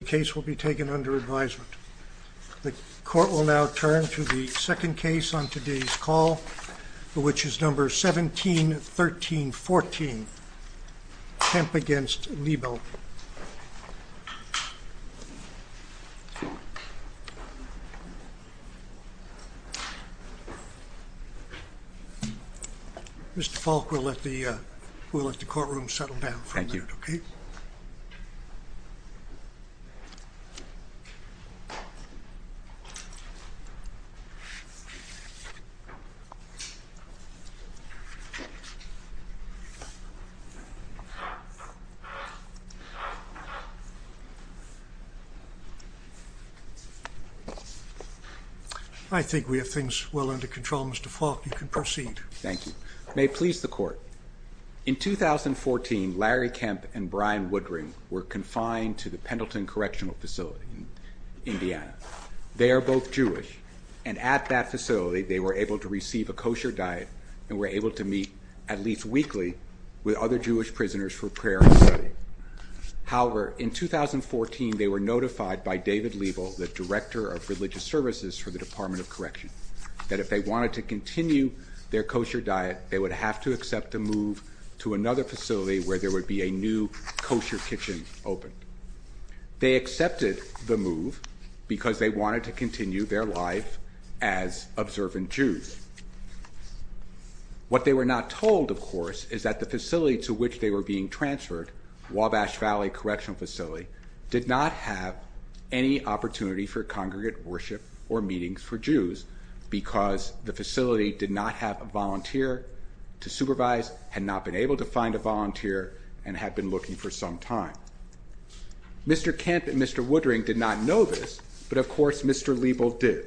The case will be taken under advisement. The court will now turn to the second case on today's call, which is number 171314, Kemp v. Liebel. Mr. Falk, we'll let the courtroom settle down for a minute. Thank you. I think we have things well under control, Mr. Falk. You can proceed. Thank you. May it please the court, in 2014 Larry Kemp and Brian Woodring were confined to the Pendleton Correctional Facility in Indiana. They are both Jewish, and at that facility they were able to receive a kosher diet and were able to meet at least weekly with other Jewish prisoners for prayer and study. However, in 2014 they were notified by David Liebel, the Director of Religious Services for the Department of Correction, that if they wanted to continue their kosher diet they would have to accept a move to another facility where there would be a new kosher kitchen open. They accepted the move because they wanted to continue their life as observant Jews. What they were not told, of course, is that the facility to which they were being transferred, Wabash Valley Correctional Facility, did not have any opportunity for congregate worship or meetings for Jews because the facility did not have a volunteer to supervise, had not been able to find a volunteer, and had been looking for some time. Mr. Kemp and Mr. Woodring did not know this, but of course Mr. Liebel did,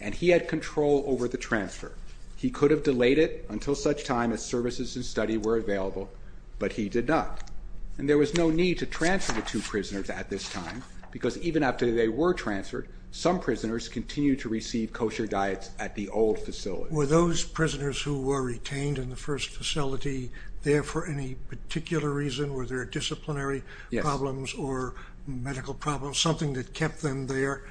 and he had control over the transfer. He could have delayed it until such time as services and study were available, but he did not, and there was no need to transfer the two prisoners at this time because even after they were transferred, some prisoners continued to receive kosher diets at the old facility. Were those prisoners who were retained in the first facility there for any particular reason? Were there disciplinary problems or medical problems, something that kept them there?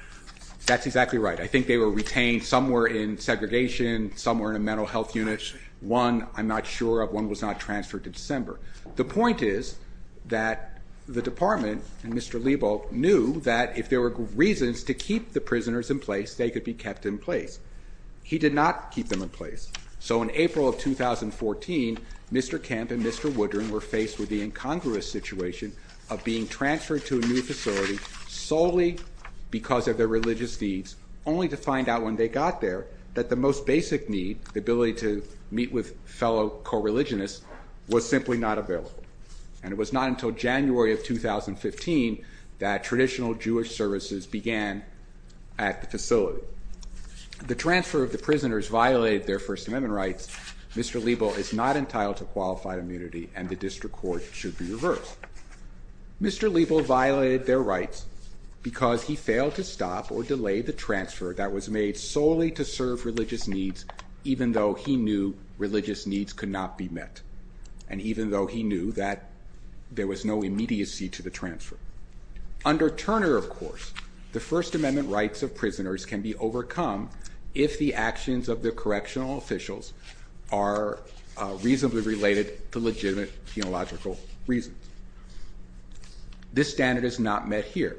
That's exactly right. I think they were retained somewhere in segregation, somewhere in a mental health unit. One I'm not sure of. One was not transferred to December. The point is that the department and Mr. Liebel knew that if there were reasons to keep the prisoners in place, they could be kept in place. He did not keep them in place. So in April of 2014, Mr. Kemp and Mr. Woodring were faced with the incongruous situation of being transferred to a new facility solely because of their religious needs, only to find out when they got there that the most basic need, the ability to meet with fellow co-religionists, was simply not available. And it was not until January of 2015 that traditional Jewish services began at the facility. The transfer of the prisoners violated their First Amendment rights. Mr. Liebel is not entitled to qualified immunity, and the district court should be reversed. Mr. Liebel violated their rights because he failed to stop or delay the transfer that was made solely to serve religious needs, even though he knew religious needs could not be met, and even though he knew that there was no immediacy to the transfer. Under Turner, of course, the First Amendment rights of prisoners can be overcome if the actions of the correctional officials are reasonably related to legitimate theological reasons. This standard is not met here.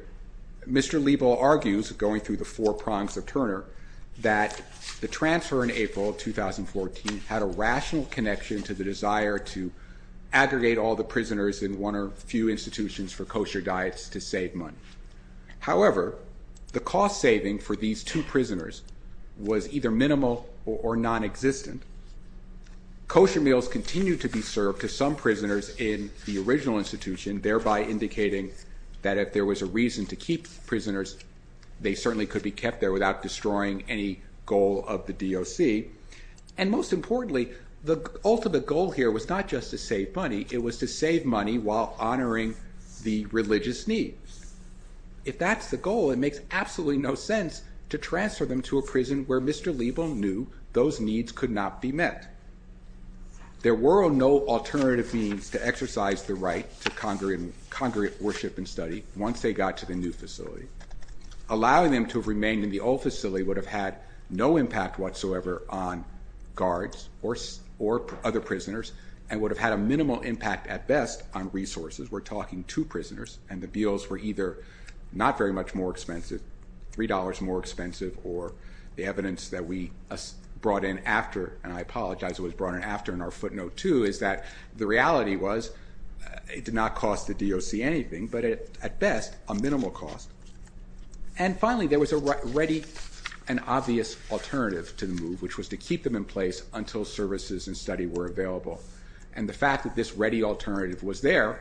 Mr. Liebel argues, going through the four prongs of Turner, that the transfer in April of 2014 had a rational connection to the desire to aggregate all the prisoners in one or few institutions for kosher diets to save money. However, the cost saving for these two prisoners was either minimal or nonexistent. Kosher meals continued to be served to some prisoners in the original institution, thereby indicating that if there was a reason to keep prisoners, they certainly could be kept there without destroying any goal of the DOC. And most importantly, the ultimate goal here was not just to save money. It was to save money while honoring the religious needs. If that's the goal, it makes absolutely no sense to transfer them to a prison where Mr. Liebel knew those needs could not be met. There were no alternative means to exercise the right to congregate worship and study once they got to the new facility. Allowing them to remain in the old facility would have had no impact whatsoever on guards or other prisoners and would have had a minimal impact at best on resources. We're talking two prisoners, and the meals were either not very much more expensive, $3 more expensive, or the evidence that we brought in after, and I apologize, it was brought in after in our footnote too, is that the reality was it did not cost the DOC anything, but at best, a minimal cost. And finally, there was already an obvious alternative to the move, which was to keep them in place until services and study were available. And the fact that this ready alternative was there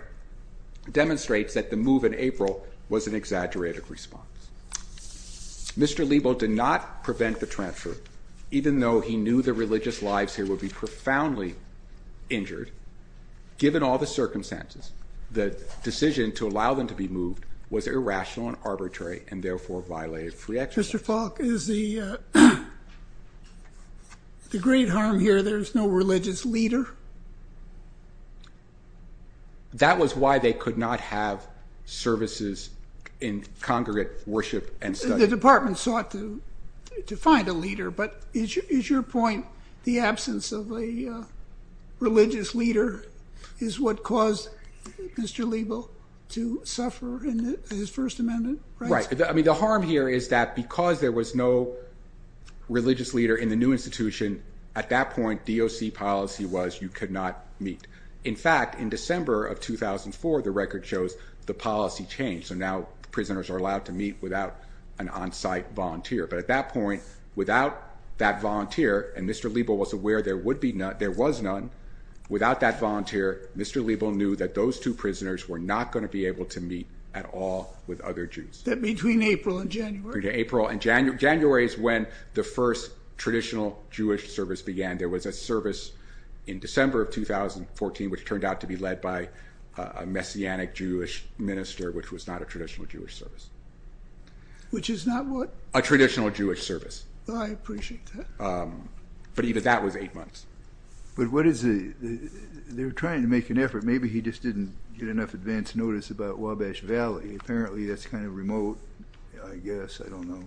demonstrates that the move in April was an exaggerated response. Mr. Liebel did not prevent the transfer, even though he knew the religious lives here would be profoundly injured. Given all the circumstances, the decision to allow them to be moved was irrational and arbitrary and therefore violated free exercise. Mr. Falk, is the great harm here there's no religious leader? That was why they could not have services in congregate worship and study. The department sought to find a leader, but is your point the absence of a religious leader is what caused Mr. Liebel to suffer in his First Amendment rights? I mean, the harm here is that because there was no religious leader in the new institution, at that point, DOC policy was you could not meet. In fact, in December of 2004, the record shows the policy changed. So now prisoners are allowed to meet without an on-site volunteer. But at that point, without that volunteer, and Mr. Liebel was aware there would be none, there was none. Without that volunteer, Mr. Liebel knew that those two prisoners were not going to be able to meet at all with other Jews. Between April and January? Between April and January. January is when the first traditional Jewish service began. There was a service in December of 2014, which turned out to be led by a Messianic Jewish minister, which was not a traditional Jewish service. Which is not what? A traditional Jewish service. I appreciate that. But even that was eight months. But what is the, they were trying to make an effort. Maybe he just didn't get enough advance notice about Wabash Valley. Apparently that's kind of remote, I guess. I don't know.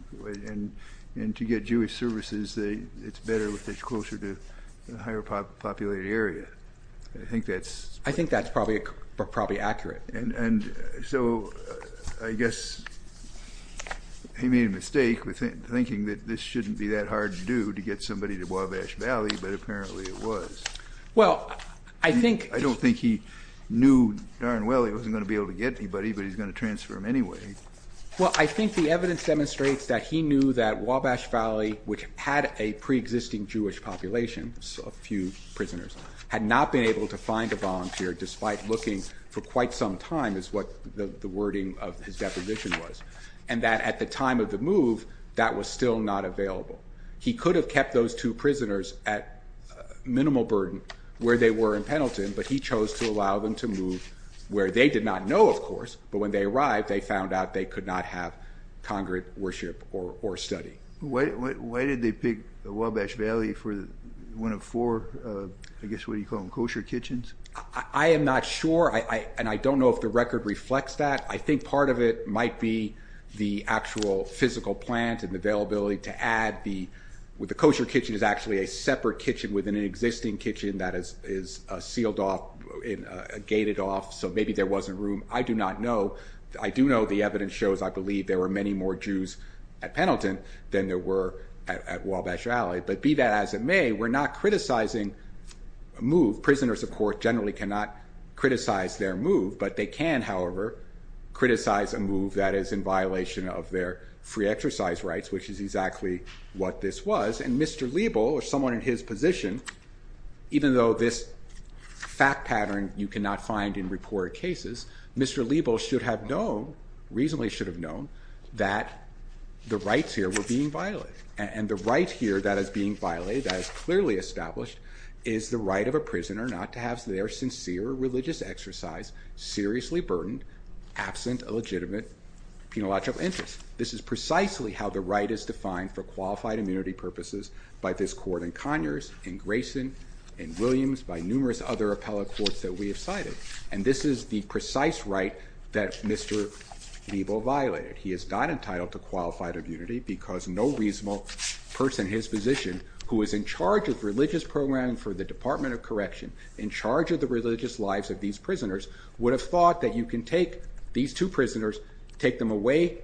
And to get Jewish services, it's better if it's closer to a higher populated area. I think that's... I think that's probably accurate. And so I guess he made a mistake with thinking that this shouldn't be that hard to do, to get somebody to Wabash Valley, but apparently it was. Well, I think... I don't think he knew darn well he wasn't going to be able to get anybody, but he's going to transfer them anyway. Well, I think the evidence demonstrates that he knew that Wabash Valley, which had a preexisting Jewish population, a few prisoners, had not been able to find a volunteer despite looking for quite some time, is what the wording of his deposition was. And that at the time of the move, that was still not available. He could have kept those two prisoners at minimal burden where they were in Pendleton, but he chose to allow them to move where they did not know, of course. But when they arrived, they found out they could not have congregate worship or study. Why did they pick Wabash Valley for one of four, I guess, what do you call them, kosher kitchens? I am not sure, and I don't know if the record reflects that. I think part of it might be the actual physical plant and the availability to add the kosher kitchen is actually a separate kitchen within an existing kitchen that is sealed off, gated off, so maybe there wasn't room. I do not know. I do know the evidence shows, I believe, there were many more Jews at Pendleton than there were at Wabash Valley, but be that as it may, we're not criticizing a move. Prisoners, of course, generally cannot criticize their move, but they can, however, criticize a move that is in violation of their free exercise rights, which is exactly what this was. And Mr. Liebel or someone in his position, even though this fact pattern you cannot find in reported cases, Mr. Liebel should have known, reasonably should have known, that the rights here were being violated. And the right here that is being violated, that is clearly established, is the right of a prisoner not to have their sincere religious exercise seriously burdened, absent a legitimate penological interest. This is precisely how the right is defined for qualified immunity purposes by this court in Conyers, in Grayson, in Williams, by numerous other appellate courts that we have cited. And this is the precise right that Mr. Liebel violated. He is not entitled to qualified immunity because no reasonable person in his position who is in charge of religious programming for the Department of Correction, in charge of the religious lives of these prisoners, would have thought that you can take these two prisoners, take them away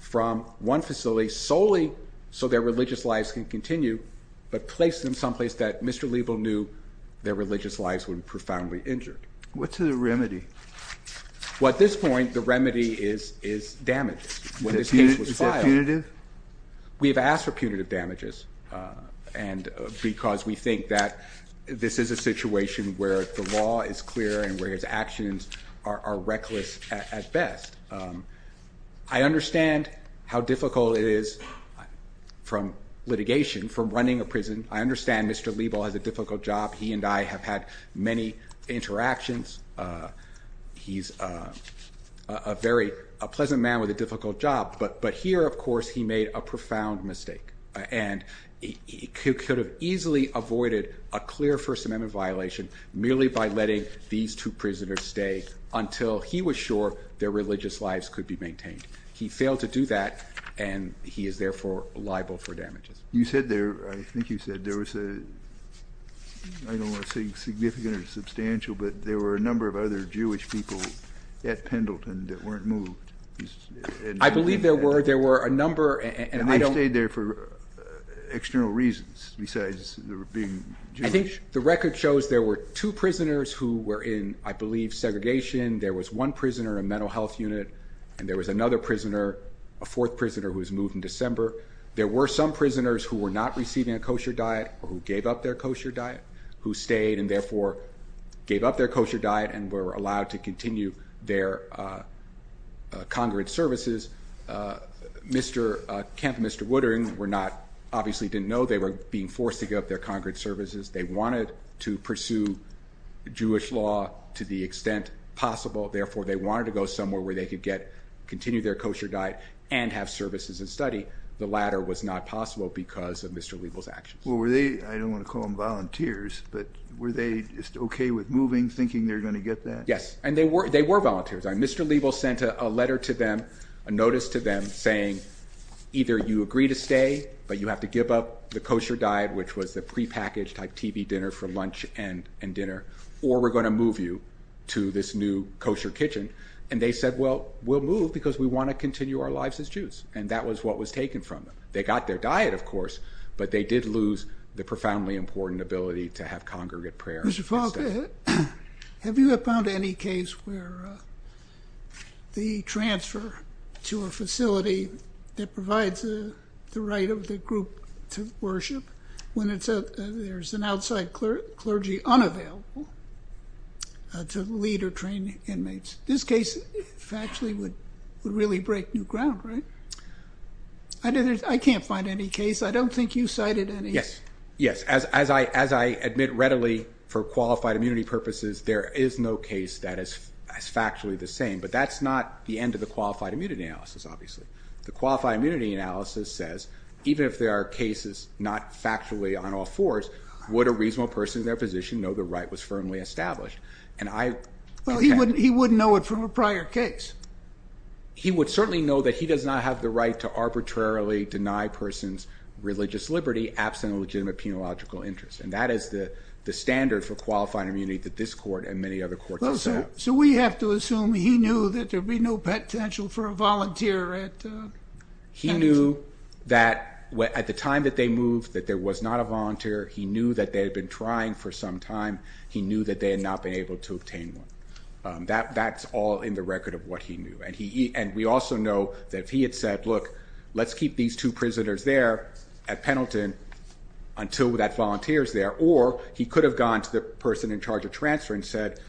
from one facility solely so their religious lives can continue, but place them someplace that Mr. Liebel knew their religious lives would be profoundly injured. What's the remedy? Well, at this point, the remedy is damages. Is it punitive? We have asked for punitive damages because we think that this is a situation where the law is clear and where his actions are reckless at best. I understand how difficult it is from litigation, from running a prison. I understand Mr. Liebel has a difficult job. He and I have had many interactions. He's a very pleasant man with a difficult job. But here, of course, he made a profound mistake, and he could have easily avoided a clear First Amendment violation merely by letting these two prisoners stay until he was sure their religious lives could be maintained. He failed to do that, and he is therefore liable for damages. You said there, I think you said there was a, I don't want to say significant or substantial, but there were a number of other Jewish people at Pendleton that weren't moved. I believe there were. There were a number, and I don't. And they stayed there for external reasons besides their being Jewish. I think the record shows there were two prisoners who were in, I believe, segregation. There was one prisoner in a mental health unit, and there was another prisoner, a fourth prisoner, who was moved in December. There were some prisoners who were not receiving a kosher diet or who gave up their kosher diet, who stayed and therefore gave up their kosher diet and were allowed to continue their congregate services. Mr. Kemp and Mr. Woodering were not, obviously didn't know they were being forced to give up their congregate services. They wanted to pursue Jewish law to the extent possible. Therefore, they wanted to go somewhere where they could continue their kosher diet and have services and study. The latter was not possible because of Mr. Liebel's actions. Well, were they, I don't want to call them volunteers, but were they just okay with moving, thinking they were going to get that? Yes, and they were volunteers. Mr. Liebel sent a letter to them, a notice to them, saying either you agree to stay, but you have to give up the kosher diet, which was the prepackaged type TV dinner for lunch and dinner, or we're going to move you to this new kosher kitchen. And they said, well, we'll move because we want to continue our lives as Jews, and that was what was taken from them. They got their diet, of course, but they did lose the profoundly important ability to have congregate prayer. Mr. Falk, have you found any case where the transfer to a facility that provides the right of the group to worship when there's an outside clergy unavailable to lead or train inmates? This case actually would really break new ground, right? I can't find any case. I don't think you cited any. Yes, as I admit readily, for qualified immunity purposes, there is no case that is factually the same, but that's not the end of the qualified immunity analysis, obviously. The qualified immunity analysis says even if there are cases not factually on all fours, would a reasonable person in their position know the right was firmly established? He wouldn't know it from a prior case. He would certainly know that he does not have the right to arbitrarily deny a person's religious liberty absent a legitimate penological interest, and that is the standard for qualified immunity that this court and many other courts have set up. So we have to assume he knew that there would be no potential for a volunteer at Pendleton? He knew that at the time that they moved that there was not a volunteer. He knew that they had been trying for some time. He knew that they had not been able to obtain one. That's all in the record of what he knew, and we also know that if he had said, look, let's keep these two prisoners there at Pendleton until that volunteer is there, or he could have gone to the person in charge of transfer and said,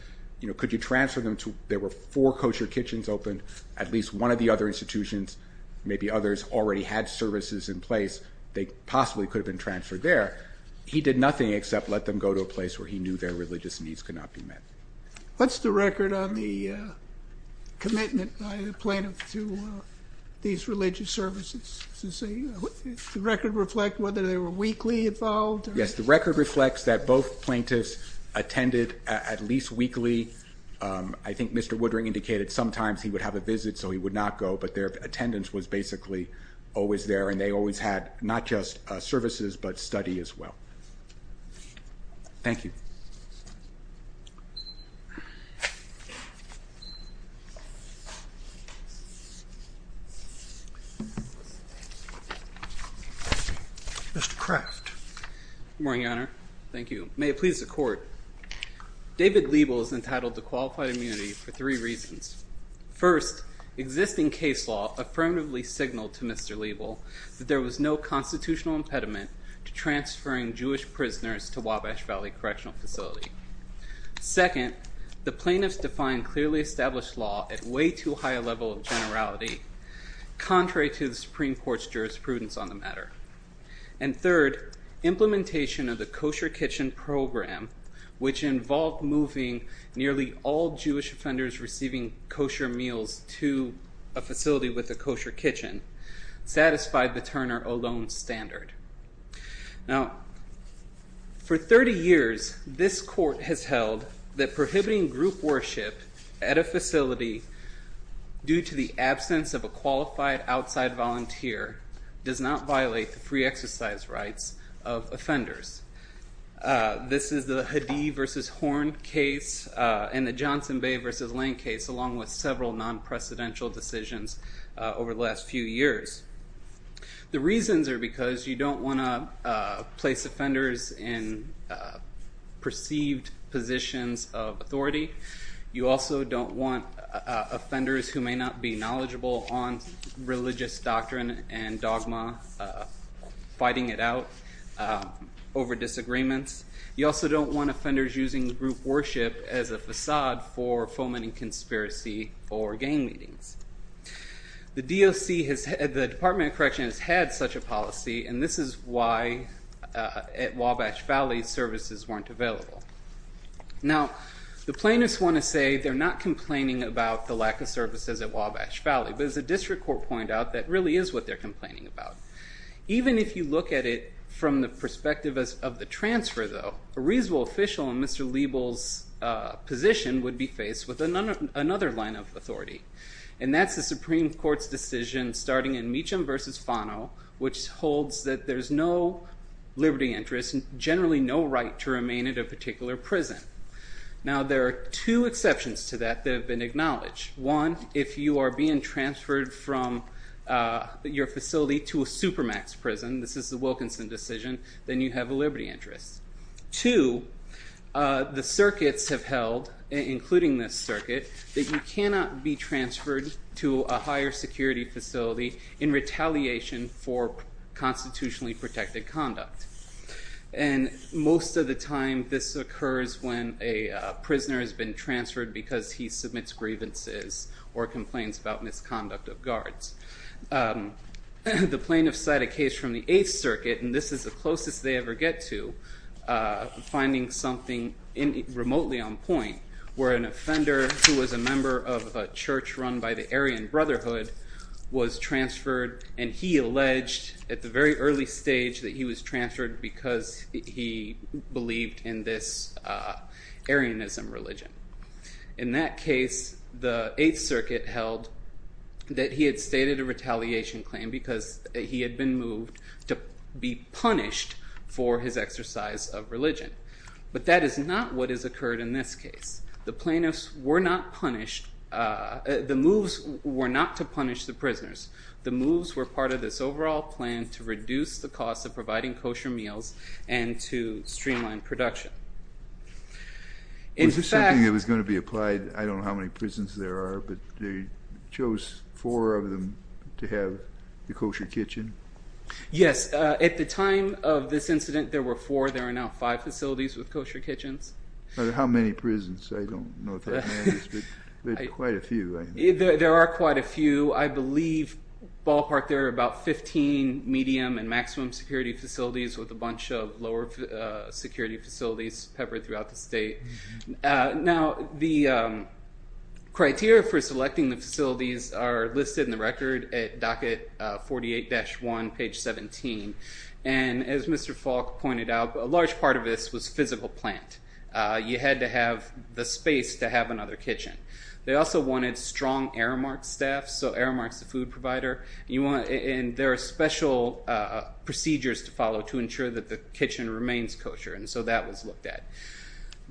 could you transfer them to, there were four kosher kitchens open, at least one of the other institutions, maybe others already had services in place, they possibly could have been transferred there. He did nothing except let them go to a place where he knew their religious needs could not be met. What's the record on the commitment by the plaintiff to these religious services? Does the record reflect whether they were weekly involved? Yes, the record reflects that both plaintiffs attended at least weekly. I think Mr. Woodring indicated sometimes he would have a visit so he would not go, but their attendance was basically always there, and they always had not just services but study as well. Thank you. Mr. Craft. Good morning, Your Honor. Thank you. May it please the Court. David Liebel is entitled to qualified immunity for three reasons. First, existing case law affirmatively signaled to Mr. Liebel that there was no constitutional impediment to transferring Jewish prisoners to Wabash Valley Correctional Facility. Second, the plaintiffs defined clearly established law at way too high a level of generality, contrary to the Supreme Court's jurisprudence on the matter. And third, implementation of the kosher kitchen program, which involved moving nearly all Jewish offenders receiving kosher meals to a facility with a kosher kitchen, satisfied the Turner Ohlone standard. Now, for 30 years, this Court has held that prohibiting group worship at a facility due to the absence of a qualified outside volunteer does not violate the free exercise rights of offenders. This is the Hadid v. Horn case and the Johnson Bay v. Lane case, along with several non-precedential decisions over the last few years. The reasons are because you don't want to place offenders in perceived positions of authority. You also don't want offenders who may not be knowledgeable on religious doctrine and dogma fighting it out over disagreements. You also don't want offenders using group worship as a facade for fomenting conspiracy or gang meetings. The Department of Correction has had such a policy, and this is why at Wabash Valley services weren't available. Now, the plaintiffs want to say they're not complaining about the lack of services at Wabash Valley, but as the district court pointed out, that really is what they're complaining about. Even if you look at it from the perspective of the transfer, though, a reasonable official in Mr. Liebel's position would be faced with another line of authority, and that's the Supreme Court's decision starting in Meacham v. Fano, which holds that there's no liberty interest and generally no right to remain at a particular prison. Now, there are two exceptions to that that have been acknowledged. One, if you are being transferred from your facility to a supermax prison, this is the Wilkinson decision, then you have a liberty interest. Two, the circuits have held, including this circuit, that you cannot be transferred to a higher security facility in retaliation for constitutionally protected conduct. And most of the time, this occurs when a prisoner has been transferred because he submits grievances or complains about misconduct of guards. The plaintiffs cite a case from the Eighth Circuit, and this is the closest they ever get to finding something remotely on point, where an offender who was a member of a church run by the Aryan Brotherhood was transferred, and he alleged at the very early stage that he was transferred because he believed in this Aryanism religion. In that case, the Eighth Circuit held that he had stated a retaliation claim because he had been moved to be punished for his exercise of religion. But that is not what has occurred in this case. The plaintiffs were not punished. The moves were not to punish the prisoners. The moves were part of this overall plan to reduce the cost of providing kosher meals and to streamline production. Was this something that was going to be applied, I don't know how many prisons there are, but they chose four of them to have the kosher kitchen? Yes. At the time of this incident, there were four. There are now five facilities with kosher kitchens. How many prisons? I don't know if that matters, but there are quite a few. There are quite a few. I believe ballpark there are about 15 medium and maximum security facilities with a bunch of lower security facilities peppered throughout the state. Now, the criteria for selecting the facilities are listed in the record at docket 48-1, page 17. And as Mr. Falk pointed out, a large part of this was physical plant. You had to have the space to have another kitchen. They also wanted strong Aramark staff, so Aramark's the food provider. And there are special procedures to follow to ensure that the kitchen remains kosher, and so that was looked at.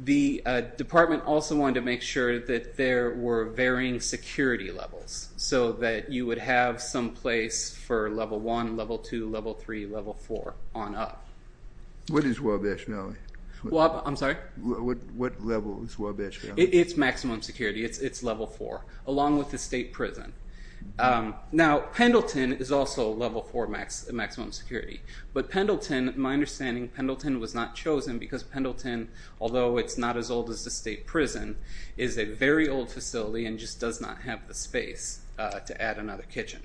The department also wanted to make sure that there were varying security levels so that you would have some place for Level 1, Level 2, Level 3, Level 4 on up. What is Wabash Valley? I'm sorry? What level is Wabash Valley? It's maximum security. It's Level 4, along with the state prison. Now, Pendleton is also Level 4 maximum security, but Pendleton, my understanding, Pendleton was not chosen because Pendleton, although it's not as old as the state prison, is a very old facility and just does not have the space to add another kitchen.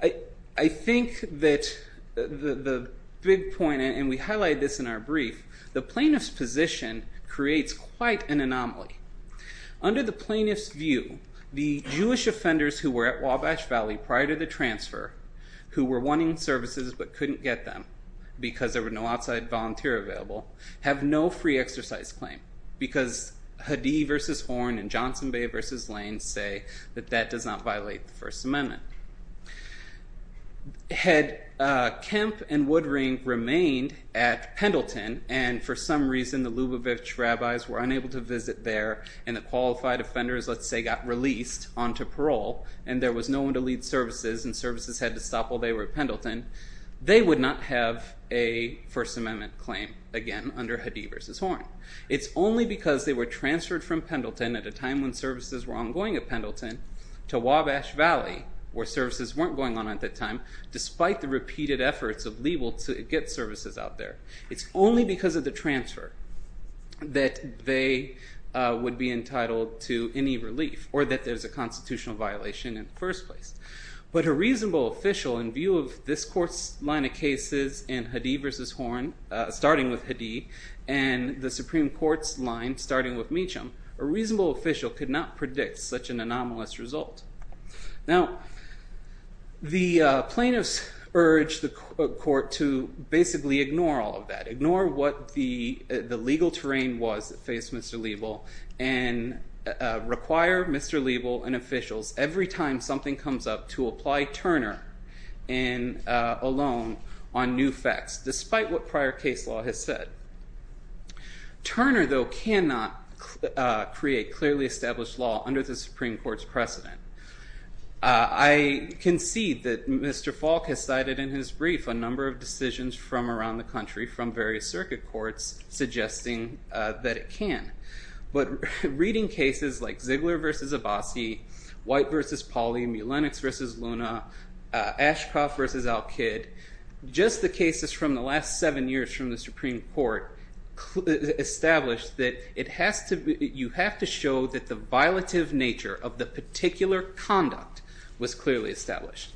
I think that the big point, and we highlight this in our brief, the plaintiff's position creates quite an anomaly. Under the plaintiff's view, the Jewish offenders who were at Wabash Valley prior to the transfer, who were wanting services but couldn't get them because there were no outside volunteer available, have no free exercise claim because Hadid v. Horn and Johnson Bay v. Lane say that that does not violate the First Amendment. Had Kemp and Woodring remained at Pendleton and for some reason the Lubavitch rabbis were unable to visit there and the qualified offenders, let's say, got released onto parole and there was no one to lead services and services had to stop while they were at Pendleton, they would not have a First Amendment claim again under Hadid v. Horn. It's only because they were transferred from Pendleton at a time when services were ongoing at Pendleton to Wabash Valley, where services weren't going on at that time, despite the repeated efforts of legal to get services out there. It's only because of the transfer that they would be entitled to any relief or that there's a constitutional violation in the first place. But a reasonable official in view of this court's line of cases in Hadid v. Horn, starting with Hadid, and the Supreme Court's line starting with Meacham, a reasonable official could not predict such an anomalous result. Now, the plaintiffs urged the court to basically ignore all of that, ignore what the legal terrain was that faced Mr. Liebel and require Mr. Liebel and officials every time something comes up to apply Turner alone on new facts, despite what prior case law has said. Turner, though, cannot create clearly established law under the Supreme Court's precedent. I concede that Mr. Falk has cited in his brief a number of decisions from around the country from various circuit courts suggesting that it can. But reading cases like Ziegler v. Abbasi, White v. Pauley, Mulenix v. Luna, Ashcroft v. Al-Kid, just the cases from the last seven years from the Supreme Court established that you have to show that the violative nature of the particular conduct was clearly established.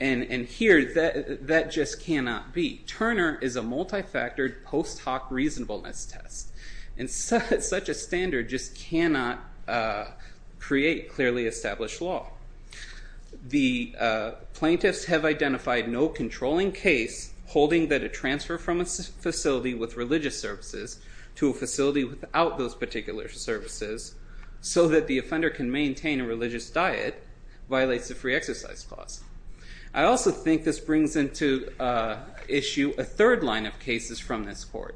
And here, that just cannot be. Turner is a multifactored post hoc reasonableness test, and such a standard just cannot create clearly established law. The plaintiffs have identified no controlling case holding that a transfer from a facility with religious services to a facility without those particular services so that the offender can maintain a religious diet violates the free exercise clause. I also think this brings into issue a third line of cases from this court,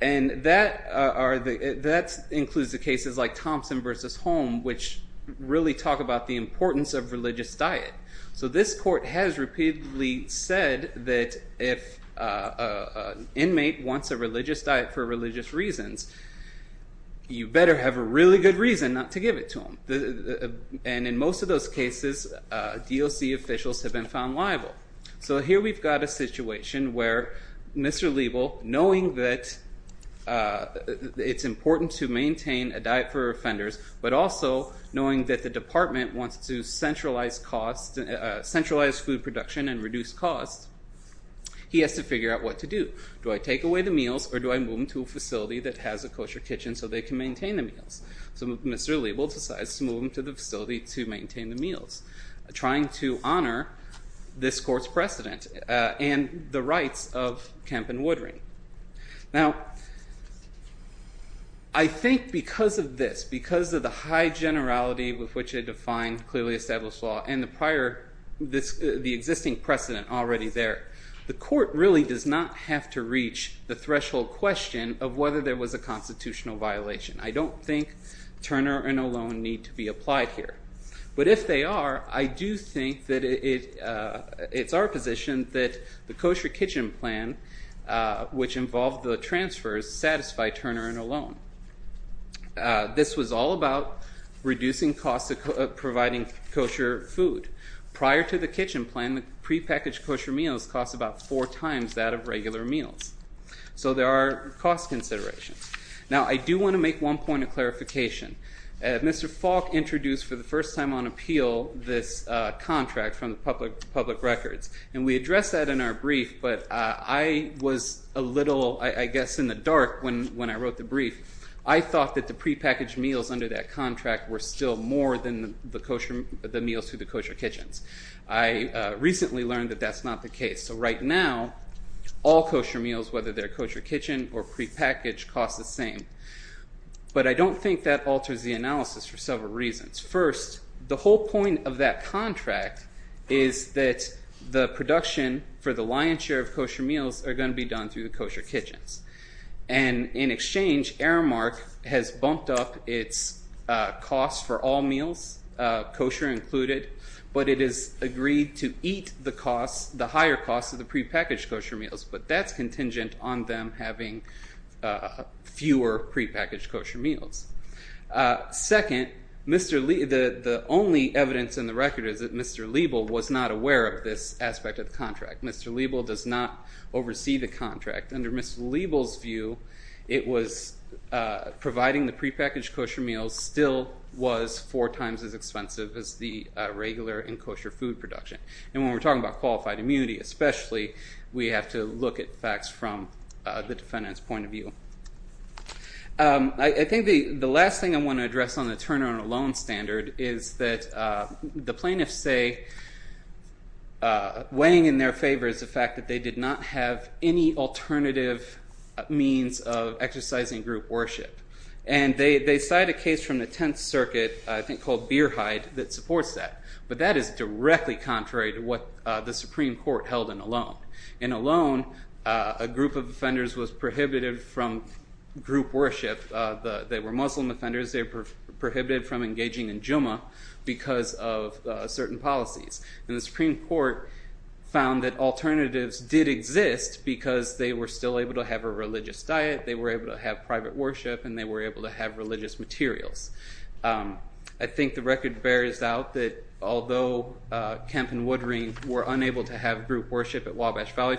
and that includes the cases like Thompson v. Holm, which really talk about the importance of religious diet. So this court has repeatedly said that if an inmate wants a religious diet for religious reasons, you better have a really good reason not to give it to them. And in most of those cases, DOC officials have been found liable. So here we've got a situation where Mr. Liebel, knowing that it's important to maintain a diet for offenders, but also knowing that the department wants to centralize food production and reduce costs, he has to figure out what to do. Do I take away the meals, or do I move them to a facility that has a kosher kitchen so they can maintain the meals? So Mr. Liebel decides to move them to the facility to maintain the meals, trying to honor this court's precedent and the rights of Kemp and Woodring. Now, I think because of this, because of the high generality with which they define clearly established law and the existing precedent already there, the court really does not have to reach the threshold question of whether there was a constitutional violation. I don't think Turner and O'Loan need to be applied here. But if they are, I do think that it's our position that the kosher kitchen plan, which involved the transfers, satisfied Turner and O'Loan. This was all about reducing costs of providing kosher food. Prior to the kitchen plan, the prepackaged kosher meals cost about four times that of regular meals. So there are cost considerations. Mr. Falk introduced, for the first time on appeal, this contract from the public records. And we addressed that in our brief, but I was a little, I guess, in the dark when I wrote the brief. I thought that the prepackaged meals under that contract were still more than the meals to the kosher kitchens. I recently learned that that's not the case. So right now, all kosher meals, whether they're kosher kitchen or prepackaged, cost the same. But I don't think that alters the analysis for several reasons. First, the whole point of that contract is that the production for the lion's share of kosher meals are going to be done through the kosher kitchens. And in exchange, Aramark has bumped up its costs for all meals, kosher included, but it has agreed to eat the higher costs of the prepackaged kosher meals. But that's contingent on them having fewer prepackaged kosher meals. Second, the only evidence in the record is that Mr. Liebel was not aware of this aspect of the contract. Mr. Liebel does not oversee the contract. Under Mr. Liebel's view, it was providing the prepackaged kosher meals still was four times as expensive as the regular and kosher food production. And when we're talking about qualified immunity especially, we have to look at facts from the defendant's point of view. I think the last thing I want to address on the turnaround alone standard is that the plaintiffs say weighing in their favor is the fact that they did not have any alternative means of exercising group worship. And they cite a case from the Tenth Circuit, I think called Beerhide, that supports that. But that is directly contrary to what the Supreme Court held in Olón. In Olón, a group of offenders was prohibited from group worship. They were Muslim offenders. They were prohibited from engaging in Jumu'ah because of certain policies. And the Supreme Court found that alternatives did exist because they were still able to have a religious diet, they were able to have private worship, and they were able to have religious materials. I think the record bears out that although Kemp and Woodring were unable to have group worship at Wabash Valley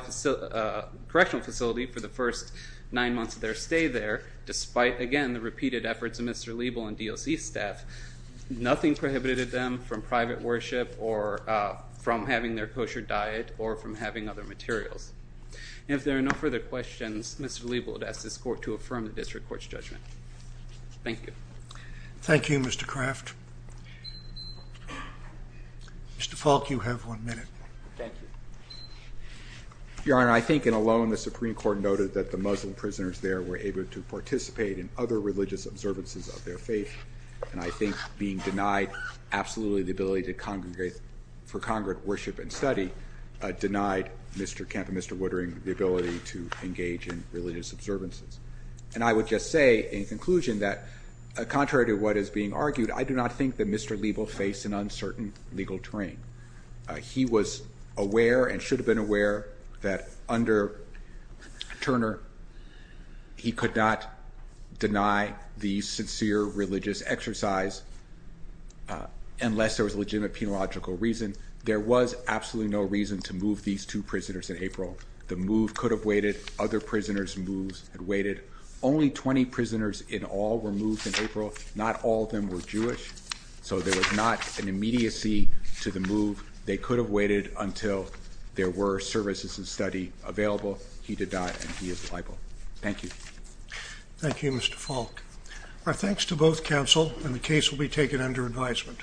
Correctional Facility for the first nine months of their stay there, despite, again, the repeated efforts of Mr. Liebel and DOC staff, nothing prohibited them from private worship or from having their kosher diet or from having other materials. And if there are no further questions, Mr. Liebel would ask this court to affirm the district court's judgment. Thank you. Thank you, Mr. Craft. Mr. Falk, you have one minute. Thank you. Your Honor, I think in Olón the Supreme Court noted that the Muslim prisoners there were able to participate in other religious observances of their faith, and I think being denied absolutely the ability for congregate worship and study denied Mr. Kemp and Mr. Woodring the ability to engage in religious observances. And I would just say in conclusion that contrary to what is being argued, I do not think that Mr. Liebel faced an uncertain legal terrain. He was aware and should have been aware that under Turner, he could not deny the sincere religious exercise unless there was legitimate penological reason. There was absolutely no reason to move these two prisoners in April. The move could have waited. Other prisoners' moves had waited. Only 20 prisoners in all were moved in April. Not all of them were Jewish, so there was not an immediacy to the move. They could have waited until there were services and study available. He did not, and he is liable. Thank you. Thank you, Mr. Falk. Our thanks to both counsel, and the case will be taken under advisement.